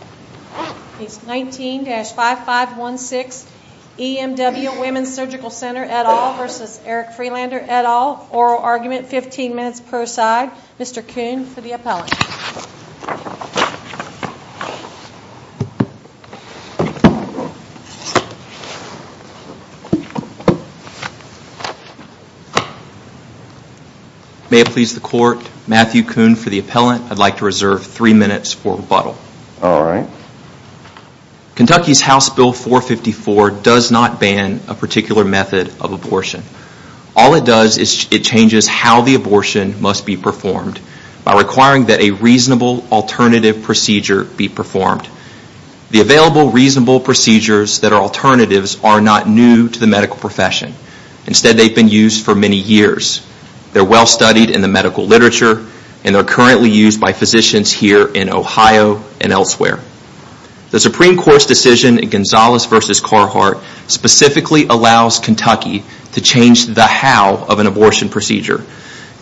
et al., oral argument, 15 minutes per side. Mr. Kuhn for the appellant. May it please the court, Matthew Kuhn for the appellant. I'd like to reserve 3 minutes for rebuttal. Kentucky's House Bill 454 does not ban a particular method of abortion. All it does is it changes how the abortion must be performed by requiring that a reasonable alternative procedure be performed. The available reasonable procedures that are alternatives are not new to the medical profession. Instead they've been used for many years. They're well studied in the medical literature and they're currently used by physicians here in Ohio and elsewhere. The Supreme Court's decision in Gonzales v. Carhart specifically allows Kentucky to change the how of an abortion procedure.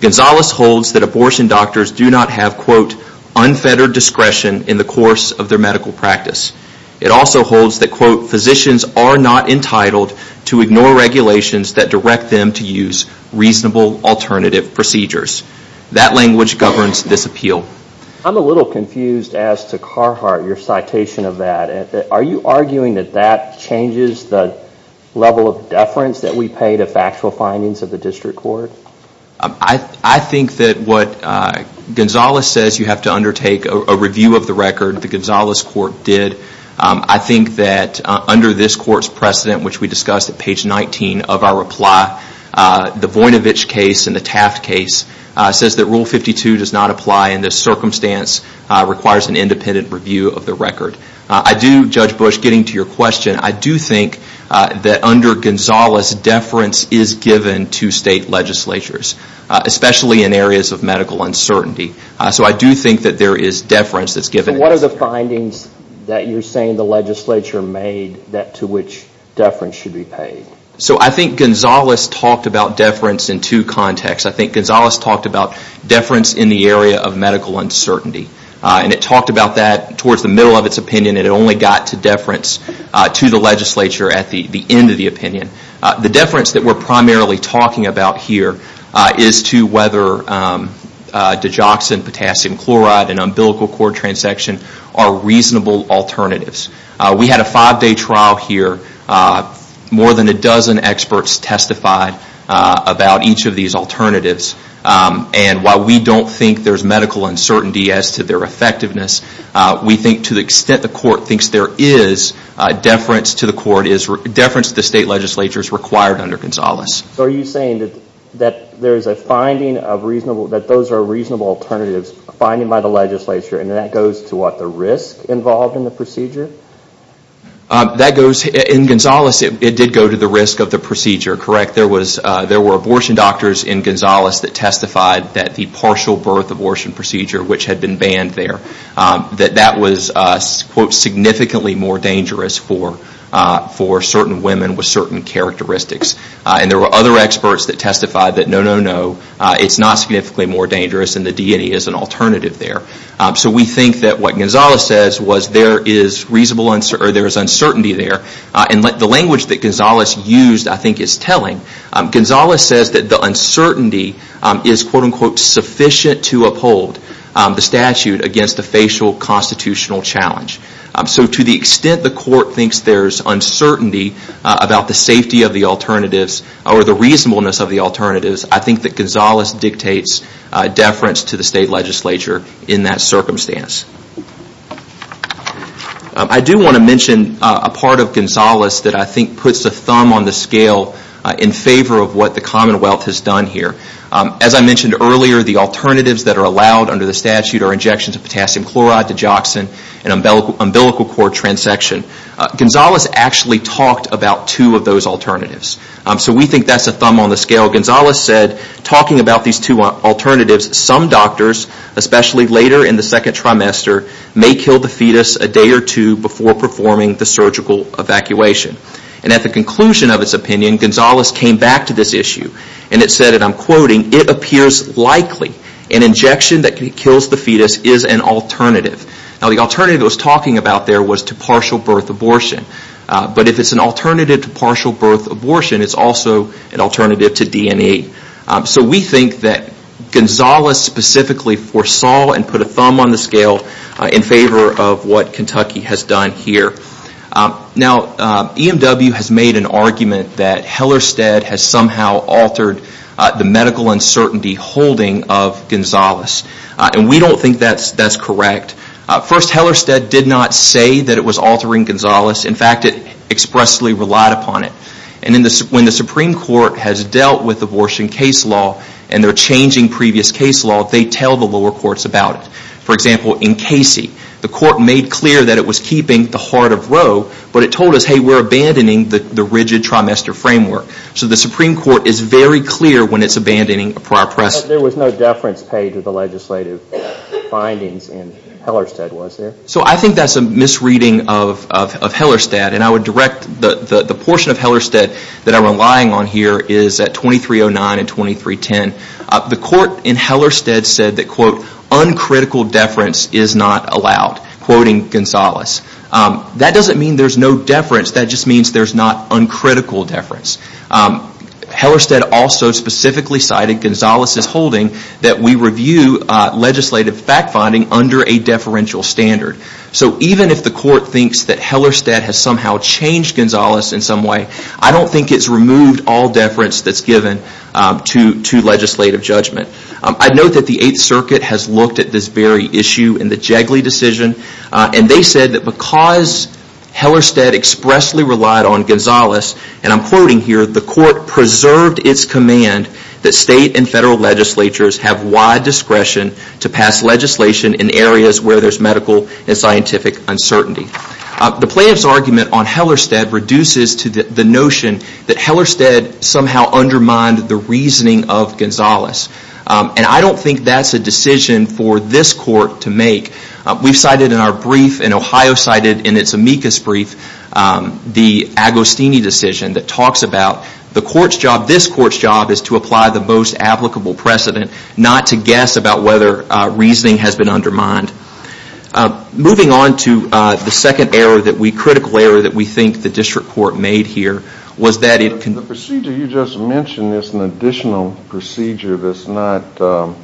Gonzales holds that abortion doctors do not have quote unfettered discretion in the course of their medical practice. It also holds that quote physicians are not entitled to ignore regulations that direct them to reasonable alternative procedures. That language governs this appeal. I'm a little confused as to Carhart, your citation of that. Are you arguing that that changes the level of deference that we pay to factual findings of the district court? I think that what Gonzales says you have to undertake a review of the record, the Gonzales court did. I think that under this court's precedent, which we discussed at page 19 of our reply, the Voinovich case and the Taft case says that rule 52 does not apply in this circumstance, requires an independent review of the record. I do, Judge Bush, getting to your question, I do think that under Gonzales deference is given to state legislatures, especially in areas of medical uncertainty. So I do think that there is deference that's given. So what are the findings that you're saying the legislature made that to which deference should be paid? So I think Gonzales talked about deference in two contexts. I think Gonzales talked about deference in the area of medical uncertainty. And it talked about that towards the middle of its opinion and it only got to deference to the legislature at the end of the opinion. The deference that we're primarily talking about here is to whether digoxin, potassium chloride and umbilical cord transection are reasonable alternatives. We had a five day trial here. More than a dozen experts testified about each of these alternatives. And while we don't think there's medical uncertainty as to their effectiveness, we think to the extent the court thinks there is, deference to the court is, deference to the state legislature is required under Gonzales. So are you saying that there's a finding of reasonable, that those are reasonable alternatives finding by the legislature and that goes to the risk involved in the procedure? That goes, in Gonzales it did go to the risk of the procedure, correct? There were abortion doctors in Gonzales that testified that the partial birth abortion procedure, which had been banned there, that that was quote significantly more dangerous for certain women with certain characteristics. And there were other experts that testified that no, no, no, it's not significantly more dangerous and the DNA is an alternative there. So we think that what Gonzales says was there is reasonable, or there is uncertainty there. And the language that Gonzales used I think is telling. Gonzales says that the uncertainty is quote unquote sufficient to uphold the statute against the facial constitutional challenge. So to the extent the court thinks there's uncertainty about the safety of the alternatives, or the reasonableness of the alternatives, I think that Gonzales dictates deference to the state legislature in that circumstance. I do want to mention a part of Gonzales that I think puts a thumb on the scale in favor of what the commonwealth has done here. As I mentioned earlier, the alternatives that are allowed under the statute are injections of potassium chloride, digoxin, and umbilical cord transection. Gonzales actually talked about two of those alternatives. So we think that's a thumb on the scale. Gonzales said about these two alternatives, some doctors, especially later in the second trimester, may kill the fetus a day or two before performing the surgical evacuation. And at the conclusion of his opinion, Gonzales came back to this issue and it said, and I'm quoting, it appears likely an injection that kills the fetus is an alternative. Now the alternative he was talking about there was to partial birth abortion. But if it's an alternative to partial birth abortion, it's also an alternative to DNA. So we think that Gonzales specifically foresaw and put a thumb on the scale in favor of what Kentucky has done here. Now EMW has made an argument that Hellerstedt has somehow altered the medical uncertainty holding of Gonzales. We don't think that's correct. First, Hellerstedt did not say that it was altering Gonzales. In fact, it expressly relied upon it. And when the Supreme Court has dealt with abortion case law and they're changing previous case law, they tell the lower courts about it. For example, in Casey, the court made clear that it was keeping the heart of Roe, but it told us, hey, we're abandoning the rigid trimester framework. So the Supreme Court is very clear when it's abandoning a prior precedent. There was no deference paid to the legislative findings in Hellerstedt, was there? So I think that's a misreading of Hellerstedt. And I would direct the portion of Hellerstedt that I'm relying on here is at 2309 and 2310. The court in Hellerstedt said that, quote, uncritical deference is not allowed, quoting Gonzales. That doesn't mean there's no deference. That just means there's not uncritical deference. Hellerstedt also specifically cited Gonzales' holding that we review legislative fact-finding under a deferential standard. So even if the court thinks that Hellerstedt has somehow changed Gonzales in some way, I don't think it's removed all deference that's given to legislative judgment. I'd note that the Eighth Circuit has looked at this very issue in the Jegley decision. And they said that because Hellerstedt expressly relied on Gonzales, and I'm quoting here, the court preserved its command that state and federal legislatures have wide discretion to pass legislation in areas where there's medical and scientific uncertainty. The plaintiff's argument on Hellerstedt reduces to the notion that Hellerstedt somehow undermined the reasoning of Gonzales. And I don't think that's a decision for this court to make. We've cited in our brief, and Ohio cited in its amicus brief, the Agostini decision that the court's job, this court's job, is to apply the most applicable precedent, not to guess about whether reasoning has been undermined. Moving on to the second error that we, critical error, that we think the district court made here was that it can... The procedure you just mentioned is an additional procedure that's not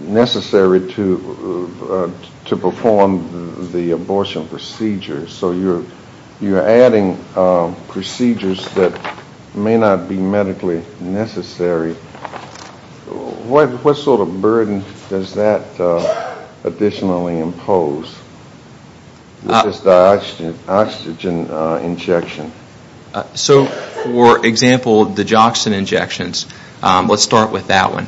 necessary to perform the abortion procedure. So you're adding procedures that may not be medically necessary. What sort of burden does that additionally impose? What is the oxygen injection? So for example, the joxan injections, let's start with that one.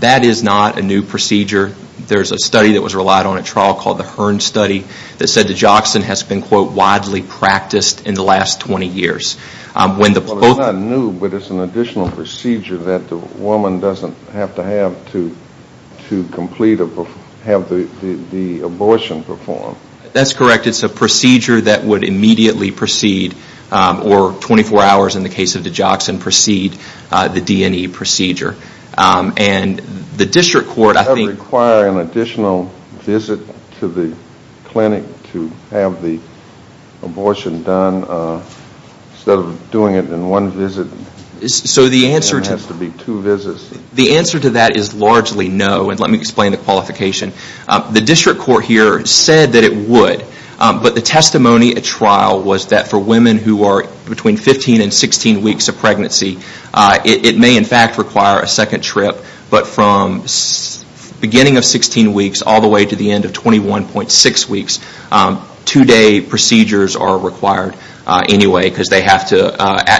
That is not a new procedure. There's a study that was relied on at trial called the Hearn Study that said the joxan has been, quote, widely practiced in the last 20 years. When the... Well, it's not new, but it's an additional procedure that the woman doesn't have to have to complete or have the abortion performed. That's correct. It's a procedure that would immediately proceed, or 24 hours in the case of the joxan, proceed the D&E procedure. And the district court, I think... Does it require an additional visit to the clinic to have the abortion done instead of doing it in one visit? So the answer to... It has to be two visits. The answer to that is largely no, and let me explain the qualification. The district court here said that it would, but the testimony at trial was that for women who are between 15 and 16 weeks of pregnancy, it may in fact require a second trip, but from beginning of 16 weeks all the way to the end of 21.6 weeks, two day procedures are required anyway because they have to,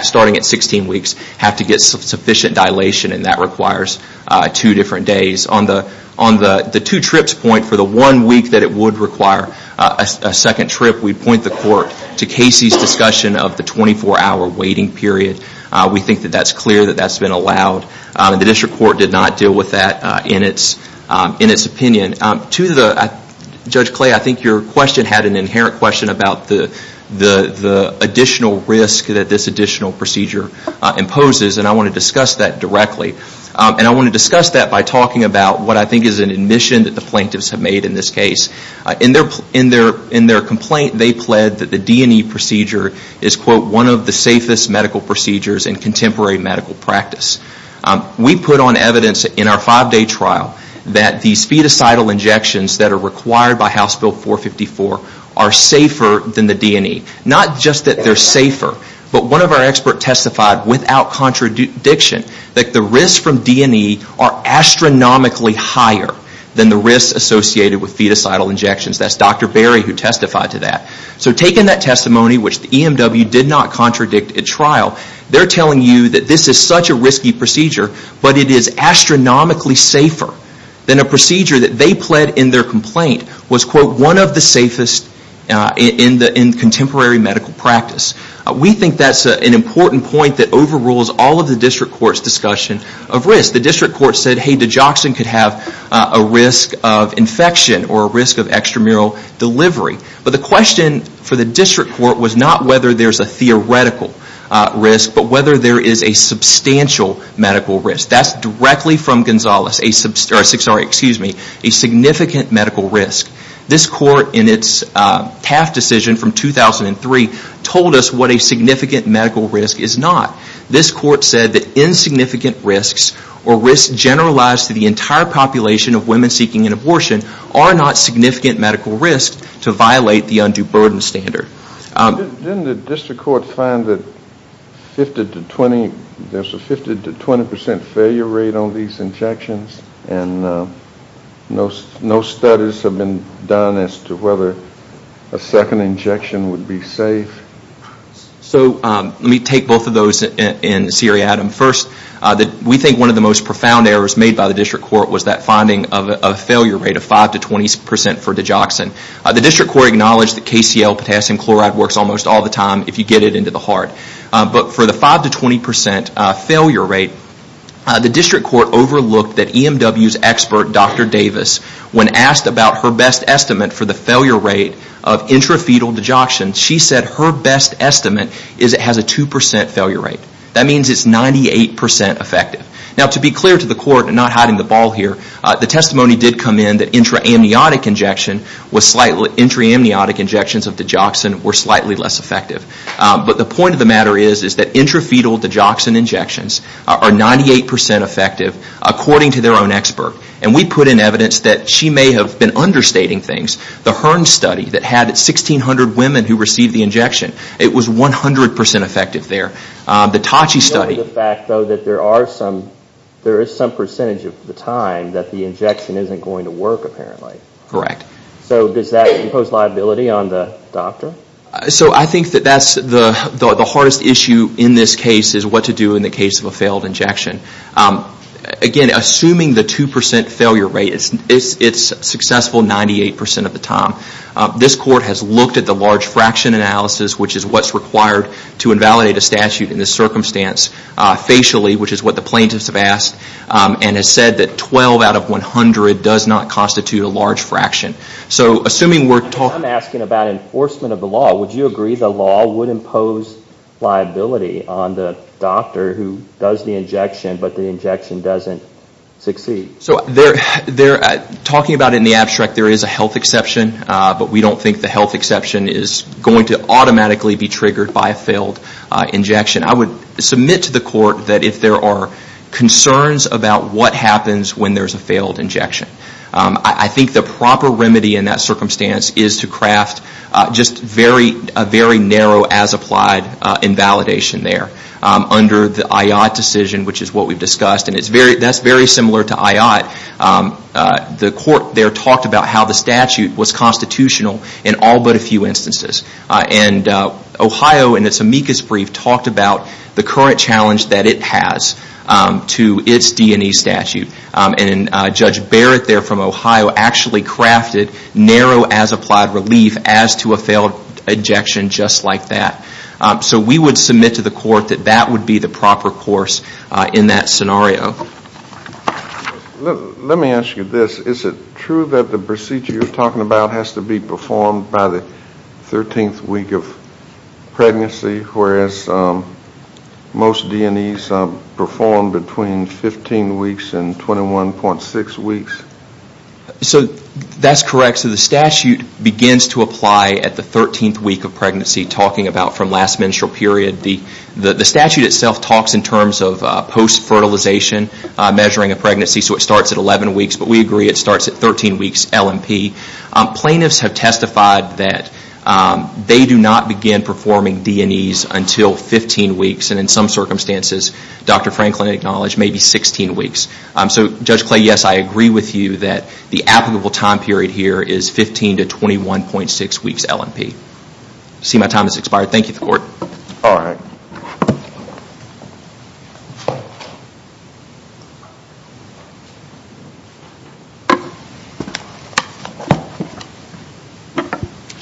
starting at 16 weeks, have to get sufficient dilation, and that requires two different days. On the two trips point, for the one week that it would require a second trip, we'd point the court to Casey's discussion of the 24 hour waiting period. We think that that's clear, that that's been allowed. The district court did not deal with that in its opinion. Judge Clay, I think your question had an inherent question about the additional risk that this additional procedure imposes, and I want to discuss that directly, and I want to discuss that by talking about what I think is an admission that the plaintiffs have made in this case. In their complaint, they pled that the D&E procedure is, quote, one of the safest medical practices. We put on evidence in our five day trial that these fetus-cidal injections that are required by House Bill 454 are safer than the D&E. Not just that they're safer, but one of our experts testified without contradiction that the risks from D&E are astronomically higher than the risks associated with fetus-cidal injections. That's Dr. Berry who testified to that. So taking that testimony, which the EMW did not contradict at trial, they're telling you that this is such a risky procedure, but it is astronomically safer than a procedure that they pled in their complaint was, quote, one of the safest in contemporary medical practice. We think that's an important point that overrules all of the district court's discussion of risk. The district court said, hey, digoxin could have a risk of infection or a risk of extramural delivery. But the question for the district court was not whether there's a theoretical risk, but whether there is a substantial medical risk. That's directly from Gonzales, a significant medical risk. This court in its TAF decision from 2003 told us what a significant medical risk is not. This court said that insignificant risks or risks generalized to the entire population of women seeking an abortion are not significant medical risks to violate the undue burden standard. Didn't the district court find that there's a 50 to 20 percent failure rate on these injections and no studies have been done as to whether a second injection would be safe? So let me take both of those in seriatim. First, we think one of the most profound errors made by the district court was that finding of a failure rate of 5 to 20 percent for digoxin. The district court acknowledged that KCL, potassium chloride, works almost all the time if you get it into the heart. But for the 5 to 20 percent failure rate, the district court overlooked that EMW's expert, Dr. Davis, when asked about her best estimate for the failure rate of intrafetal digoxin, she said her best estimate is it has a 2 percent failure rate. That means it's 98 percent effective. Now to be clear to the court, I'm not hiding that intra-amniotic injection was slightly, intra-amniotic injections of digoxin were slightly less effective. But the point of the matter is that intrafetal digoxin injections are 98 percent effective according to their own expert. And we put in evidence that she may have been understating things. The HERN study that had 1,600 women who received the injection, it was 100 percent effective there. The TACHI study... The fact, though, that there is some percentage of the time that the injection isn't going to work apparently. Correct. So does that impose liability on the doctor? So I think that's the hardest issue in this case is what to do in the case of a failed injection. Again, assuming the 2 percent failure rate, it's successful 98 percent of the time. This court has looked at the large fraction analysis, which is what's required to invalidate a statute in this circumstance, facially, which is what the plaintiffs have asked, and has said that 12 out of 100 does not constitute a large fraction. So assuming we're talking... I'm asking about enforcement of the law. Would you agree the law would impose liability on the doctor who does the injection but the injection doesn't succeed? So talking about it in the abstract, there is a health exception. But we don't think the health exception is going to automatically be triggered by a failed injection. I would submit to the court that if there are concerns about what happens when there's a failed injection, I think the proper remedy in that circumstance is to craft just a very narrow, as applied, invalidation there. Under the IOT decision, which is what we've discussed, and that's very similar to IOT, the court there talked about how the statute was constitutional in all but a few instances. And Ohio, in its amicus brief, talked about the current challenge that it has to its D&E statute. And Judge Barrett there from Ohio actually crafted narrow, as applied, relief as to a failed injection just like that. So we would submit to the court that that would be the proper course in that scenario. Let me ask you this. Is it true that the procedure you're talking about has to be performed by the 13th week of pregnancy, whereas most D&Es perform between 15 weeks and 21.6 weeks? So that's correct. So the statute begins to apply at the 13th week of pregnancy, talking about from last menstrual period. The statute itself talks in terms of post-fertilization measuring a pregnancy, so it starts at 11 weeks L&P. Plaintiffs have testified that they do not begin performing D&Es until 15 weeks, and in some circumstances, Dr. Franklin acknowledged, maybe 16 weeks. So Judge Clay, yes, I agree with you that the applicable time period here is 15 to 21.6 weeks L&P. See my time has expired. Thank you, the court.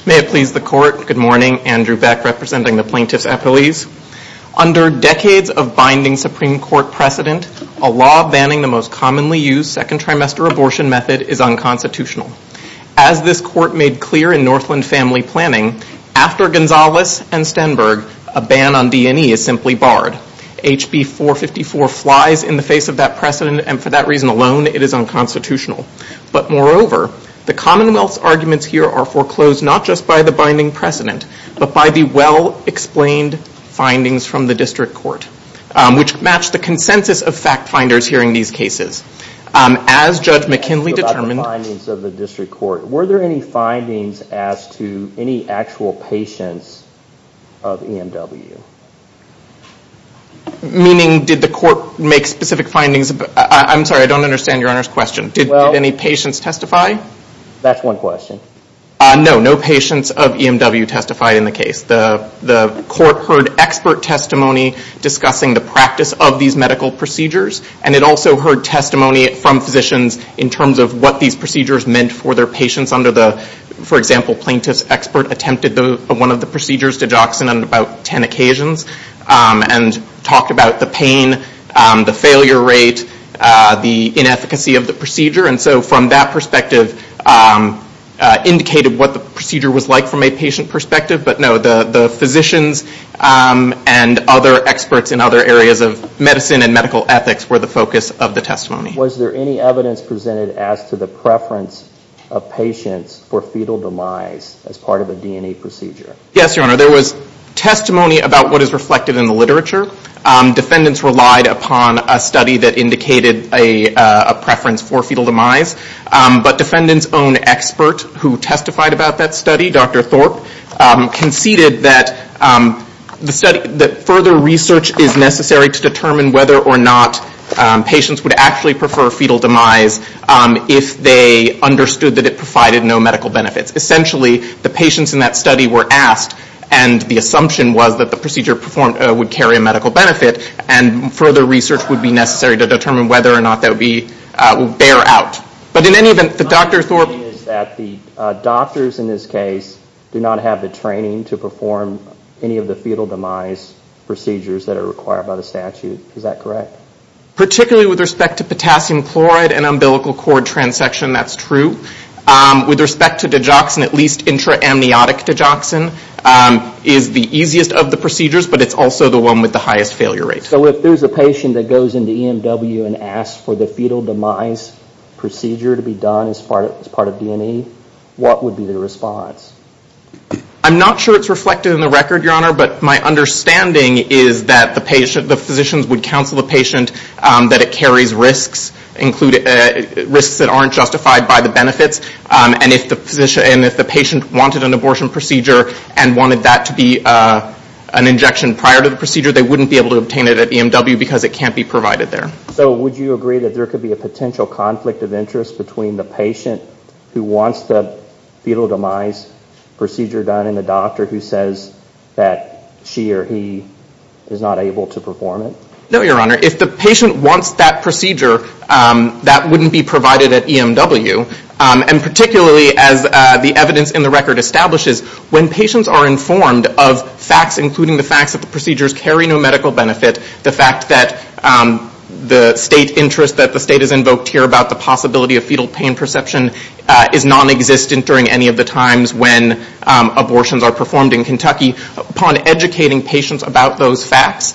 May it please the court. Good morning. Andrew Beck, representing the plaintiffs' appellees. Under decades of binding Supreme Court precedent, a law banning the most commonly used second trimester abortion method is unconstitutional. As this court made clear in Northland Family Planning, after Gonzales and Stenberg, a ban on D&E is simply barred. HB 454 flies in the favor. The commonwealth's arguments here are foreclosed not just by the binding precedent, but by the well-explained findings from the district court, which match the consensus of fact-finders hearing these cases. As Judge McKinley determined- About the findings of the district court, were there any findings as to any actual patients of EMW? Meaning, did the court make specific findings about- I'm sorry, I don't understand your Honor's question. Did any patients testify? That's one question. No, no patients of EMW testified in the case. The court heard expert testimony discussing the practice of these medical procedures, and it also heard testimony from physicians in terms of what these procedures meant for their patients under the- for example, plaintiff's expert attempted one of the procedures, digoxin, on about ten occasions, and talked about the pain, the failure rate, the inefficacy of the procedure, and so from that perspective, indicated what the procedure was like from a patient perspective, but no, the physicians and other experts in other areas of medicine and medical ethics were the focus of the testimony. Was there any evidence presented as to the preference of patients for fetal demise as part of a D&E procedure? Yes, your Honor. There was testimony about what is reflected in the literature. Defendants relied upon a study that indicated a preference for fetal demise, but defendant's own expert who testified about that study, Dr. Thorpe, conceded that the study- that further research is necessary to determine whether or not patients would actually prefer fetal demise if they understood that it provided no medical benefits. Essentially, the patients in that study were masked, and the assumption was that the procedure performed would carry a medical benefit, and further research would be necessary to determine whether or not that would be- bear out. But in any event, the Dr. Thorpe- My understanding is that the doctors in this case do not have the training to perform any of the fetal demise procedures that are required by the statute. Is that correct? Particularly with respect to potassium chloride and umbilical cord transection, that's true. With respect to digoxin, at least intra-amniotic digoxin is the easiest of the procedures, but it's also the one with the highest failure rate. So if there's a patient that goes into EMW and asks for the fetal demise procedure to be done as part of D&E, what would be their response? I'm not sure it's reflected in the record, your Honor, but my understanding is that the patient- the physicians would counsel the patient that it carries risks, included- risks that aren't justified by the benefits, and if the physician- and if the patient wanted an abortion procedure and wanted that to be an injection prior to the procedure, they wouldn't be able to obtain it at EMW because it can't be provided there. So would you agree that there could be a potential conflict of interest between the patient who wants the fetal demise procedure done and the doctor who says that she or he is not able to perform it? No, your Honor. If the patient wants that procedure, that wouldn't be provided at EMW, and particularly as the evidence in the record establishes, when patients are informed of facts including the facts that the procedures carry no medical benefit, the fact that the state interest that the state has invoked here about the possibility of fetal pain perception is nonexistent during any of the times when abortions are performed in Kentucky, upon educating patients about those facts,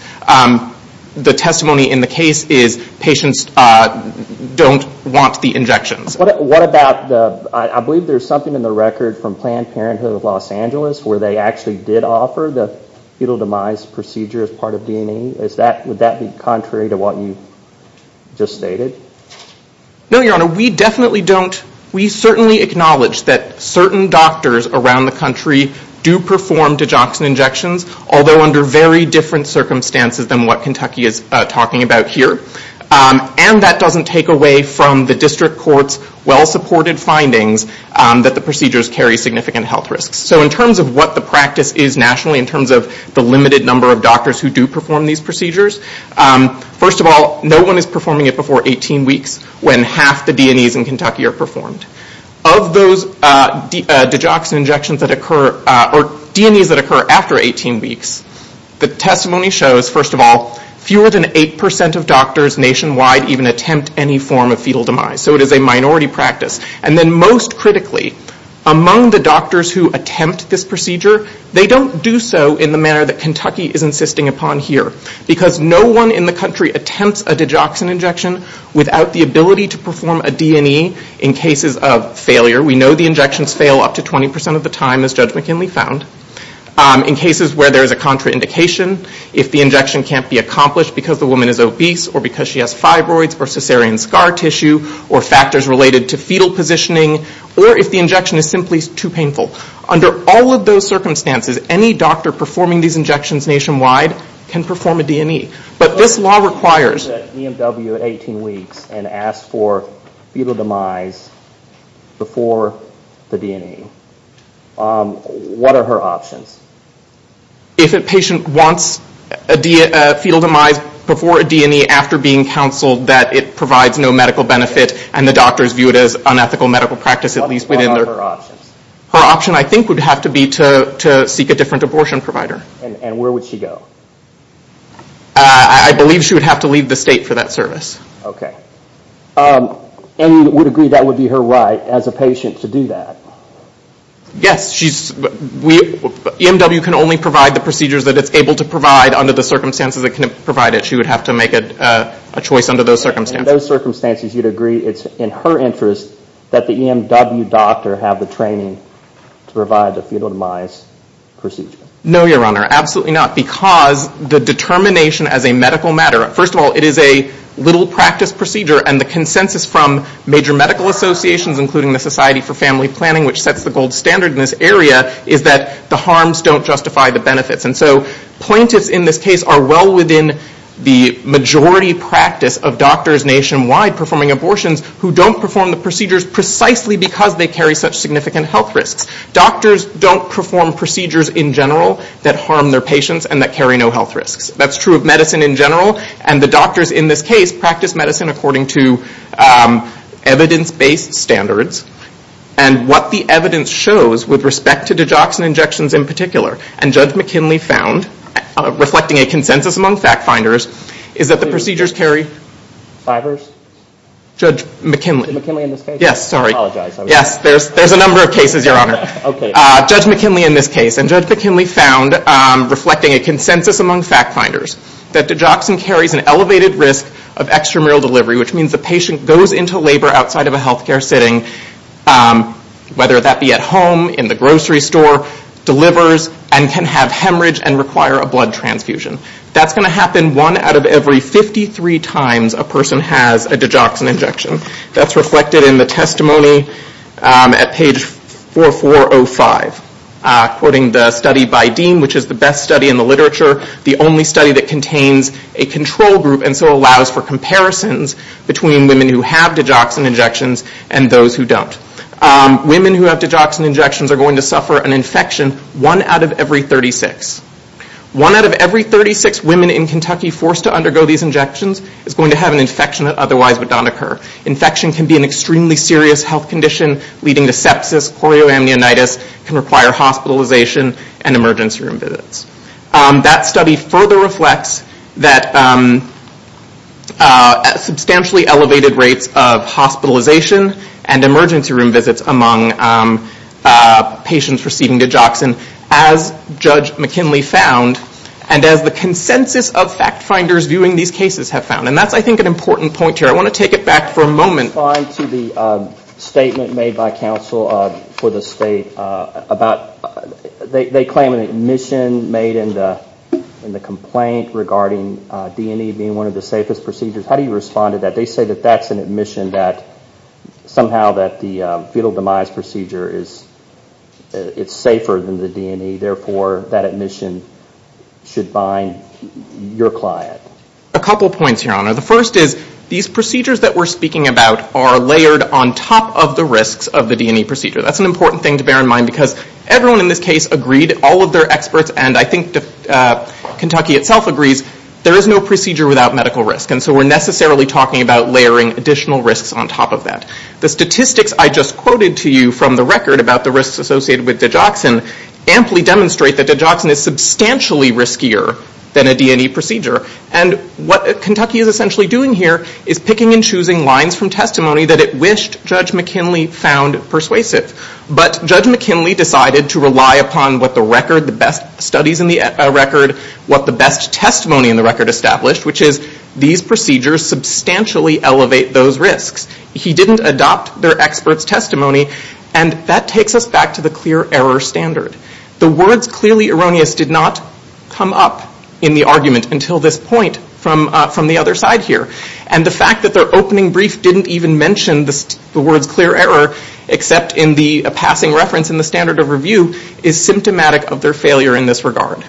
the testimony in the case is patients don't want the injections. What about the- I believe there's something in the record from Planned Parenthood of Los Angeles where they actually did offer the fetal demise procedure as part of D&E. Is that- would that be contrary to what you just stated? No, your Honor. We definitely don't- we certainly acknowledge that certain doctors around the country do perform digoxin injections, although under very different circumstances than what Kentucky is talking about here, and that doesn't take away from the district court's well-supported findings that the procedures carry significant health risks. So in terms of what the practice is nationally, in terms of the limited number of doctors who do perform these procedures, first of all, no one is performing it before 18 weeks when half the D&Es in Kentucky are performed. Of those digoxin injections that occur, or D&Es that occur after 18 weeks, the testimony shows, first of all, fewer than 8% of doctors nationwide even attempt any form of fetal demise, so it is a minority practice. And then most critically, among the doctors who attempt this procedure, they don't do so in the manner that Kentucky is insisting upon here, because no one in the country attempts a digoxin injection without the ability to perform a D&E in cases of failure. We know the injections fail up to 20% of the time, as Judge McKinley found, in cases where there is a contraindication, if the injection can't be accomplished because the woman is obese, or because she has fibroids, or caesarean scar tissue, or factors related to fetal positioning, or if the injection is simply too painful. Under all of those circumstances, any doctor performing these injections nationwide can perform a D&E, but this law requires... ...and asks for fetal demise before the D&E. What are her options? If a patient wants a fetal demise before a D&E after being counseled, that it provides no medical benefit, and the doctors view it as unethical medical practice, at least within their... What are her options? Her option, I think, would have to be to seek a different abortion provider. And where would she go? I believe she would have to leave the state for that service. Okay. And you would agree that would be her right, as a patient, to do that? Yes. She's... We... EMW can only provide the procedures that it's able to provide under the circumstances it can provide it. She would have to make a choice under those circumstances. And in those circumstances, you'd agree it's in her interest that the EMW doctor have the training to provide the fetal demise procedure? No, Your Honor. Absolutely not. Because the determination as a medical matter, first of all, it is a little practice procedure, and the consensus from major medical associations, including the Society for Family Planning, which sets the gold standard in this area, is that the harms don't justify the benefits. And so plaintiffs in this case are well within the majority practice of doctors nationwide performing abortions who don't perform the procedures precisely because they carry such significant health risks. Doctors don't perform procedures in general that harm their patients and that carry no health risks. That's true of medicine in general, and the doctors in this case practice medicine according to evidence-based standards. And what the evidence shows with respect to digoxin injections in particular, and Judge McKinley found, reflecting a consensus among fact-finders, is that the procedures carry... Fibers? Judge McKinley. Is it McKinley in this case? Yes. Sorry. I apologize. Yes. There's a number of cases, Your Honor. Okay. Judge McKinley in this case, and Judge McKinley found, reflecting a consensus among fact-finders, that digoxin carries an elevated risk of extramural delivery, which means the patient goes into labor outside of a healthcare sitting, whether that be at home, in the grocery store, delivers, and can have hemorrhage and require a blood transfusion. That's going to happen one out of every 53 times a person has a digoxin injection. That's reflected in the testimony at page 4405, quoting the study by Dean, which is the best study in the literature, the only study that contains a control group and so allows for comparisons between women who have digoxin injections and those who don't. Women who have digoxin injections are going to suffer an infection one out of every 36. One out of every 36 women in Kentucky forced to undergo these injections is going to have an infection that otherwise would not occur. Infection can be an extremely serious health condition, leading to sepsis, chloroamnionitis, can require hospitalization, and emergency room visits. That study further reflects that substantially elevated rates of hospitalization and emergency room visits among patients receiving digoxin, as Judge McKinley found, and as the consensus of fact finders viewing these cases have found. And that's, I think, an important point here. I want to take it back for a moment. I want to respond to the statement made by counsel for the state about, they claim an admission made in the complaint regarding D&E being one of the safest procedures. How do you respond to that? They say that that's an admission that somehow that the fetal demise procedure is safer than the D&E, therefore that admission should bind your client. A couple points, Your Honor. The first is, these procedures that we're speaking about are layered on top of the risks of the D&E procedure. That's an important thing to bear in mind because everyone in this case agreed, all of their experts, and I think Kentucky itself agrees, there is no procedure without medical risk, and so we're necessarily talking about layering additional risks on top of that. The statistics I just quoted to you from the record about the risks associated with digoxin amply demonstrate that digoxin is substantially riskier than a D&E procedure. And what Kentucky is essentially doing here is picking and choosing lines from testimony that it wished Judge McKinley found persuasive. But Judge McKinley decided to rely upon what the record, the best studies in the record, what the best testimony in the record established, which is, these procedures substantially elevate those risks. He didn't adopt their experts' testimony, and that takes us back to the clear error standard. The words clearly erroneous did not come up in the argument until this point from the other side here, and the fact that their opening brief didn't even mention the words clear error except in the passing reference in the standard of review is symptomatic of their failure in this regard.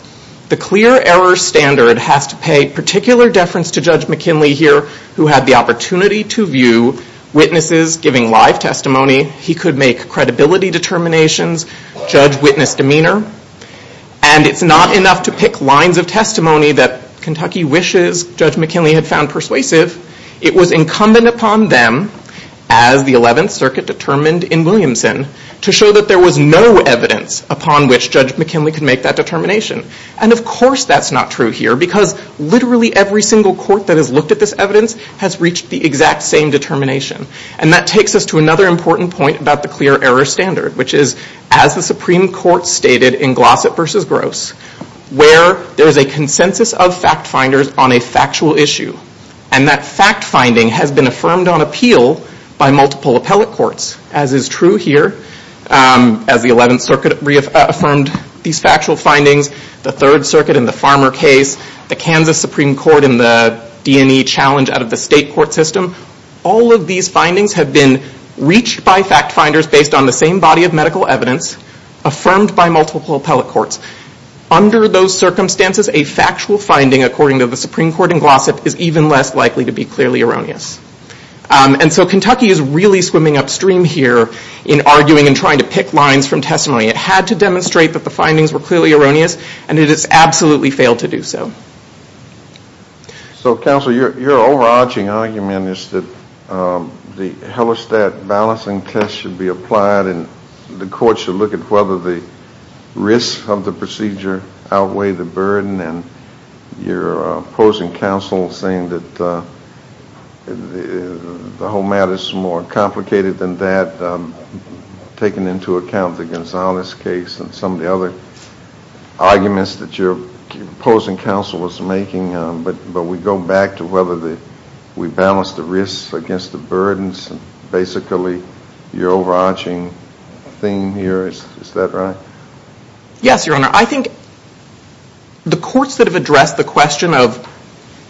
The clear error standard has to pay particular deference to Judge McKinley here who had the witnesses giving live testimony. He could make credibility determinations, judge witness demeanor, and it's not enough to pick lines of testimony that Kentucky wishes Judge McKinley had found persuasive. It was incumbent upon them, as the 11th Circuit determined in Williamson, to show that there was no evidence upon which Judge McKinley could make that determination. And of course that's not true here because literally every single court that has looked at this evidence has reached the exact same determination. And that takes us to another important point about the clear error standard, which is, as the Supreme Court stated in Glossop versus Gross, where there is a consensus of fact finders on a factual issue, and that fact finding has been affirmed on appeal by multiple appellate courts, as is true here as the 11th Circuit reaffirmed these factual findings, the Third Circuit in the Farmer case, the Kansas Supreme Court in the D&E challenge out of the state court system. All of these findings have been reached by fact finders based on the same body of medical evidence affirmed by multiple appellate courts. Under those circumstances, a factual finding, according to the Supreme Court in Glossop, is even less likely to be clearly erroneous. And so Kentucky is really swimming upstream here in arguing and trying to pick lines from testimony. It had to demonstrate that the findings were clearly erroneous, and it has absolutely failed to do so. So, counsel, your overarching argument is that the Hellerstadt balancing test should be applied and the court should look at whether the risks of the procedure outweigh the burden, and you're opposing counsel saying that the whole matter is more complicated than that, taking into account the Gonzalez case and some of the other arguments that you're opposing counsel was making, but we go back to whether we balance the risks against the burdens and basically your overarching theme here, is that right? Yes, Your Honor. I think the courts that have addressed the question of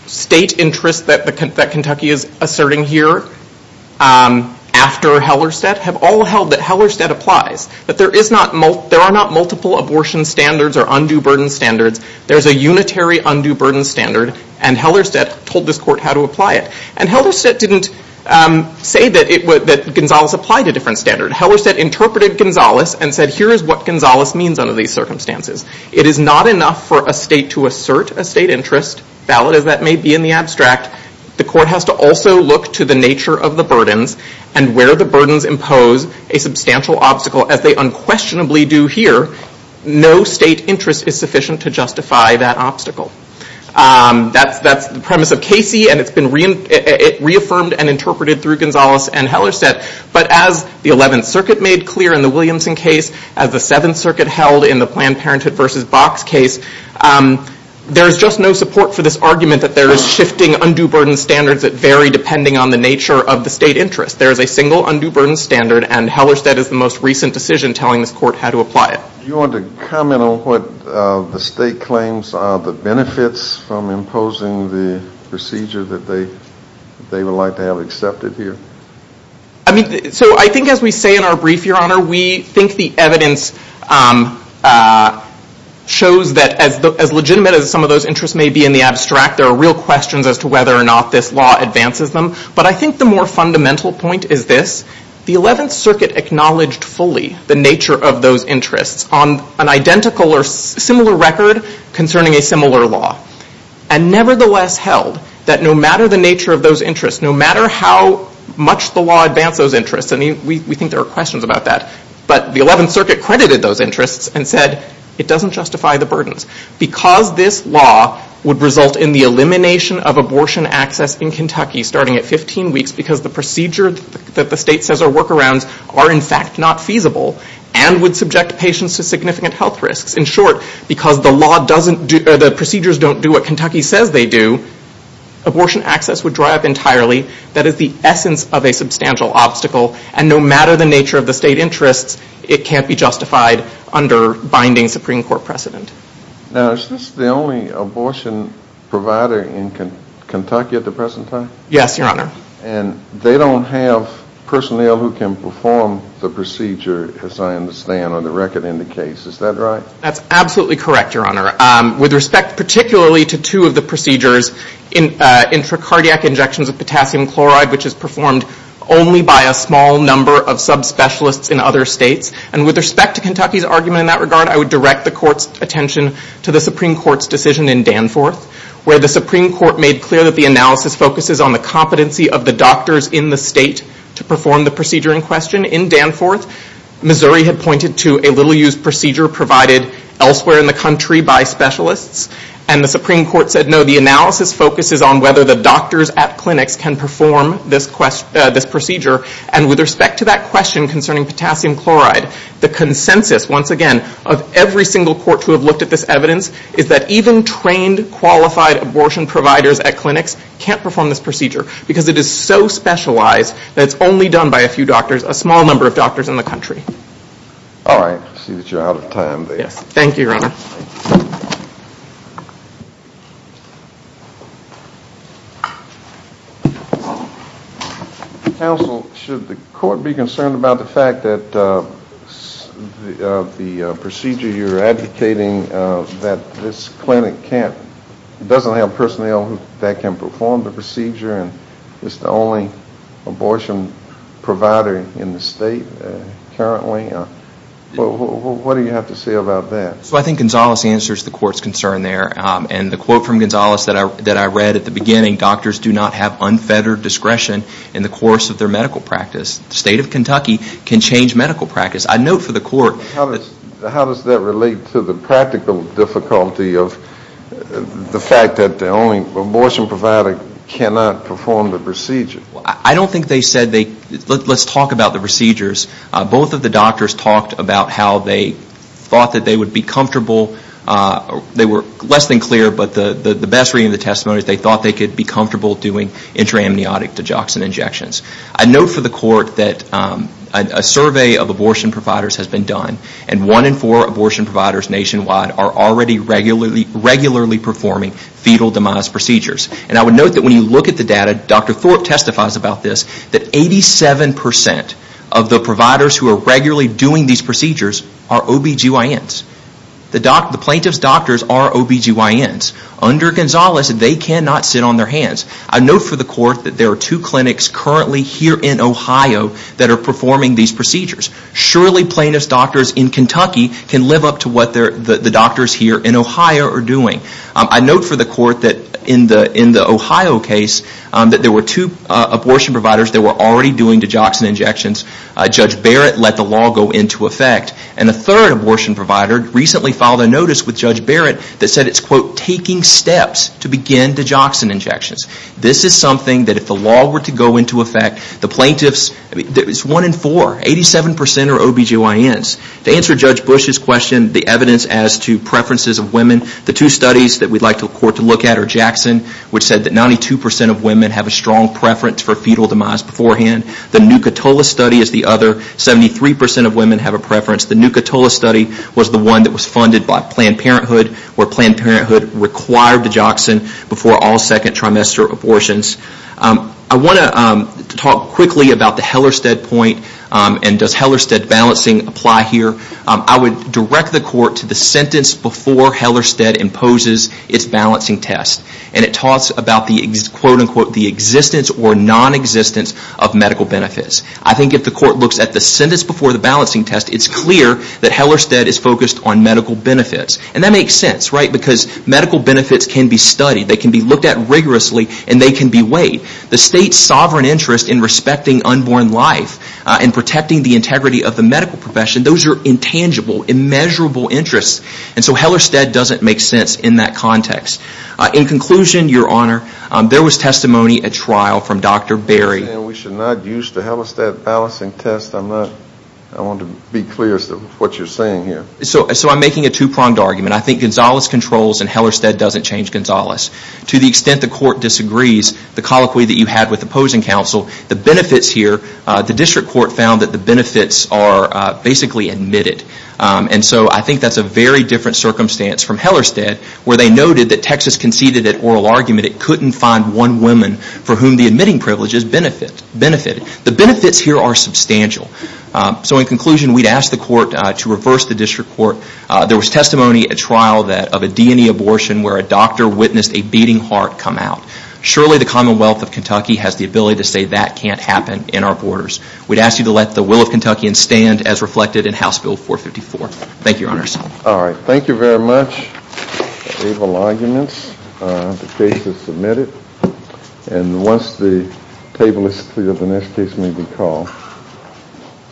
state interest that Kentucky is asserting here after Hellerstadt have all held that Hellerstadt applies, that there are not multiple abortion standards or undue burden standards, there's a unitary undue burden standard, and Hellerstadt told this court how to apply it. And Hellerstadt didn't say that Gonzalez applied a different standard. Hellerstadt interpreted Gonzalez and said, here is what Gonzalez means under these circumstances. It is not enough for a state to assert a state interest, valid as that may be in the abstract, the court has to also look to the nature of the burdens and where the burdens impose a substantial obstacle as they unquestionably do here, no state interest is sufficient to justify that obstacle. That's the premise of Casey and it's been reaffirmed and interpreted through Gonzalez and Hellerstadt, but as the 11th Circuit made clear in the Williamson case, as the 7th Circuit held in the Planned Parenthood versus Box case, there's just no support for this argument that there is shifting undue burden standards that vary depending on the nature of the state interest. There is a single undue burden standard and Hellerstadt is the most recent decision telling this court how to apply it. Do you want to comment on what the state claims are the benefits from imposing the procedure that they would like to have accepted here? So I think as we say in our brief, your honor, we think the evidence shows that as legitimate as some of those interests may be in the abstract, there are real questions as to whether or not this law advances them, but I think the more fundamental point is this. The 11th Circuit acknowledged fully the nature of those interests on an identical or similar record concerning a similar law and nevertheless held that no matter the nature of those interests, no matter how much the law advanced those interests, and we think there are questions about that, but the 11th Circuit credited those interests and said it doesn't justify the burdens. Because this law would result in the elimination of abortion access in Kentucky starting at 15 weeks because the procedure that the state says are workarounds are in fact not feasible and would subject patients to significant health risks, in short, because the procedures don't do what Kentucky says they do, abortion access would dry up entirely. That is the essence of a substantial obstacle and no matter the nature of the state interests, it can't be justified under binding Supreme Court precedent. Now, is this the only abortion provider in Kentucky at the present time? Yes, your honor. And they don't have personnel who can perform the procedure as I understand on the record in the case, is that right? That's absolutely correct, your honor. With respect particularly to two of the procedures, intracardiac injections of potassium chloride, which is performed only by a small number of subspecialists in other states, and with respect to Kentucky's argument in that regard, I would direct the court's attention to the Supreme Court's decision in Danforth, where the Supreme Court made clear that the analysis focuses on the competency of the doctors in the state to perform the procedure in question. In Danforth, Missouri had pointed to a little-used procedure provided elsewhere in the country by specialists, and the Supreme Court said, no, the analysis focuses on whether the doctors at clinics can perform this procedure, and with respect to that question concerning potassium chloride, the consensus, once again, of every single court to have looked at this evidence is that even trained, qualified abortion providers at clinics can't perform this procedure because it is so specialized that it's only done by a few doctors, a small number of doctors in the country. All right. I see that you're out of time there. Yes. Counsel, should the court be concerned about the fact that the procedure you're advocating that this clinic can't, doesn't have personnel that can perform the procedure, and it's the only abortion provider in the state currently? What do you have to say about that? So I think Gonzales answers the court's concern there, and the quote from Gonzales that I quote, does not have unfettered discretion in the course of their medical practice. The state of Kentucky can change medical practice. I note for the court. How does that relate to the practical difficulty of the fact that the only abortion provider cannot perform the procedure? I don't think they said they, let's talk about the procedures. Both of the doctors talked about how they thought that they would be comfortable, they were less than clear, but the best reading of the testimony is they thought they could be comfortable doing intra-amniotic digoxin injections. I note for the court that a survey of abortion providers has been done, and one in four abortion providers nationwide are already regularly performing fetal demise procedures. And I would note that when you look at the data, Dr. Thorpe testifies about this, that 87% of the providers who are regularly doing these procedures are OBGYNs. The plaintiff's doctors are OBGYNs. Under Gonzales, they cannot sit on their hands. I note for the court that there are two clinics currently here in Ohio that are performing these procedures. Surely plaintiff's doctors in Kentucky can live up to what the doctors here in Ohio are doing. I note for the court that in the Ohio case, that there were two abortion providers that were already doing digoxin injections. Judge Barrett let the law go into effect. And a third abortion provider recently filed a notice with Judge Barrett that said it's quote, taking steps to begin digoxin injections. This is something that if the law were to go into effect, the plaintiff's, there's one in four, 87% are OBGYNs. To answer Judge Bush's question, the evidence as to preferences of women, the two studies that we'd like the court to look at are Jackson, which said that 92% of women have a strong preference for fetal demise beforehand. The Nuka-Tola study is the other, 73% of women have a preference. The Nuka-Tola study was the one that was funded by Planned Parenthood, where Planned Parenthood required digoxin before all second trimester abortions. I want to talk quickly about the Hellerstedt point, and does Hellerstedt balancing apply here? I would direct the court to the sentence before Hellerstedt imposes its balancing test. And it talks about the quote, unquote, the existence or non-existence of medical benefits. I think if the court looks at the sentence before the balancing test, it's clear that Hellerstedt is focused on medical benefits. And that makes sense, right? Because medical benefits can be studied, they can be looked at rigorously, and they can be weighed. The state's sovereign interest in respecting unborn life and protecting the integrity of the medical profession, those are intangible, immeasurable interests. And so Hellerstedt doesn't make sense in that context. In conclusion, Your Honor, there was testimony at trial from Dr. Berry. We should not use the Hellerstedt balancing test. I want to be clear as to what you're saying here. So I'm making a two-pronged argument. I think Gonzales controls and Hellerstedt doesn't change Gonzales. To the extent the court disagrees, the colloquy that you had with opposing counsel, the benefits here, the district court found that the benefits are basically admitted. And so I think that's a very different circumstance from Hellerstedt, where they noted that Texas conceded an oral argument, it couldn't find one woman for whom the admitting privileges benefited. The benefits here are substantial. So in conclusion, we'd ask the court to reverse the district court. There was testimony at trial of a DNE abortion where a doctor witnessed a beating heart come out. Surely the Commonwealth of Kentucky has the ability to say that can't happen in our borders. We'd ask you to let the will of Kentuckians stand as reflected in House Bill 454. Thank you, Your Honor. All right. Thank you very much. The case is submitted. And once the table is clear, the next case may be called.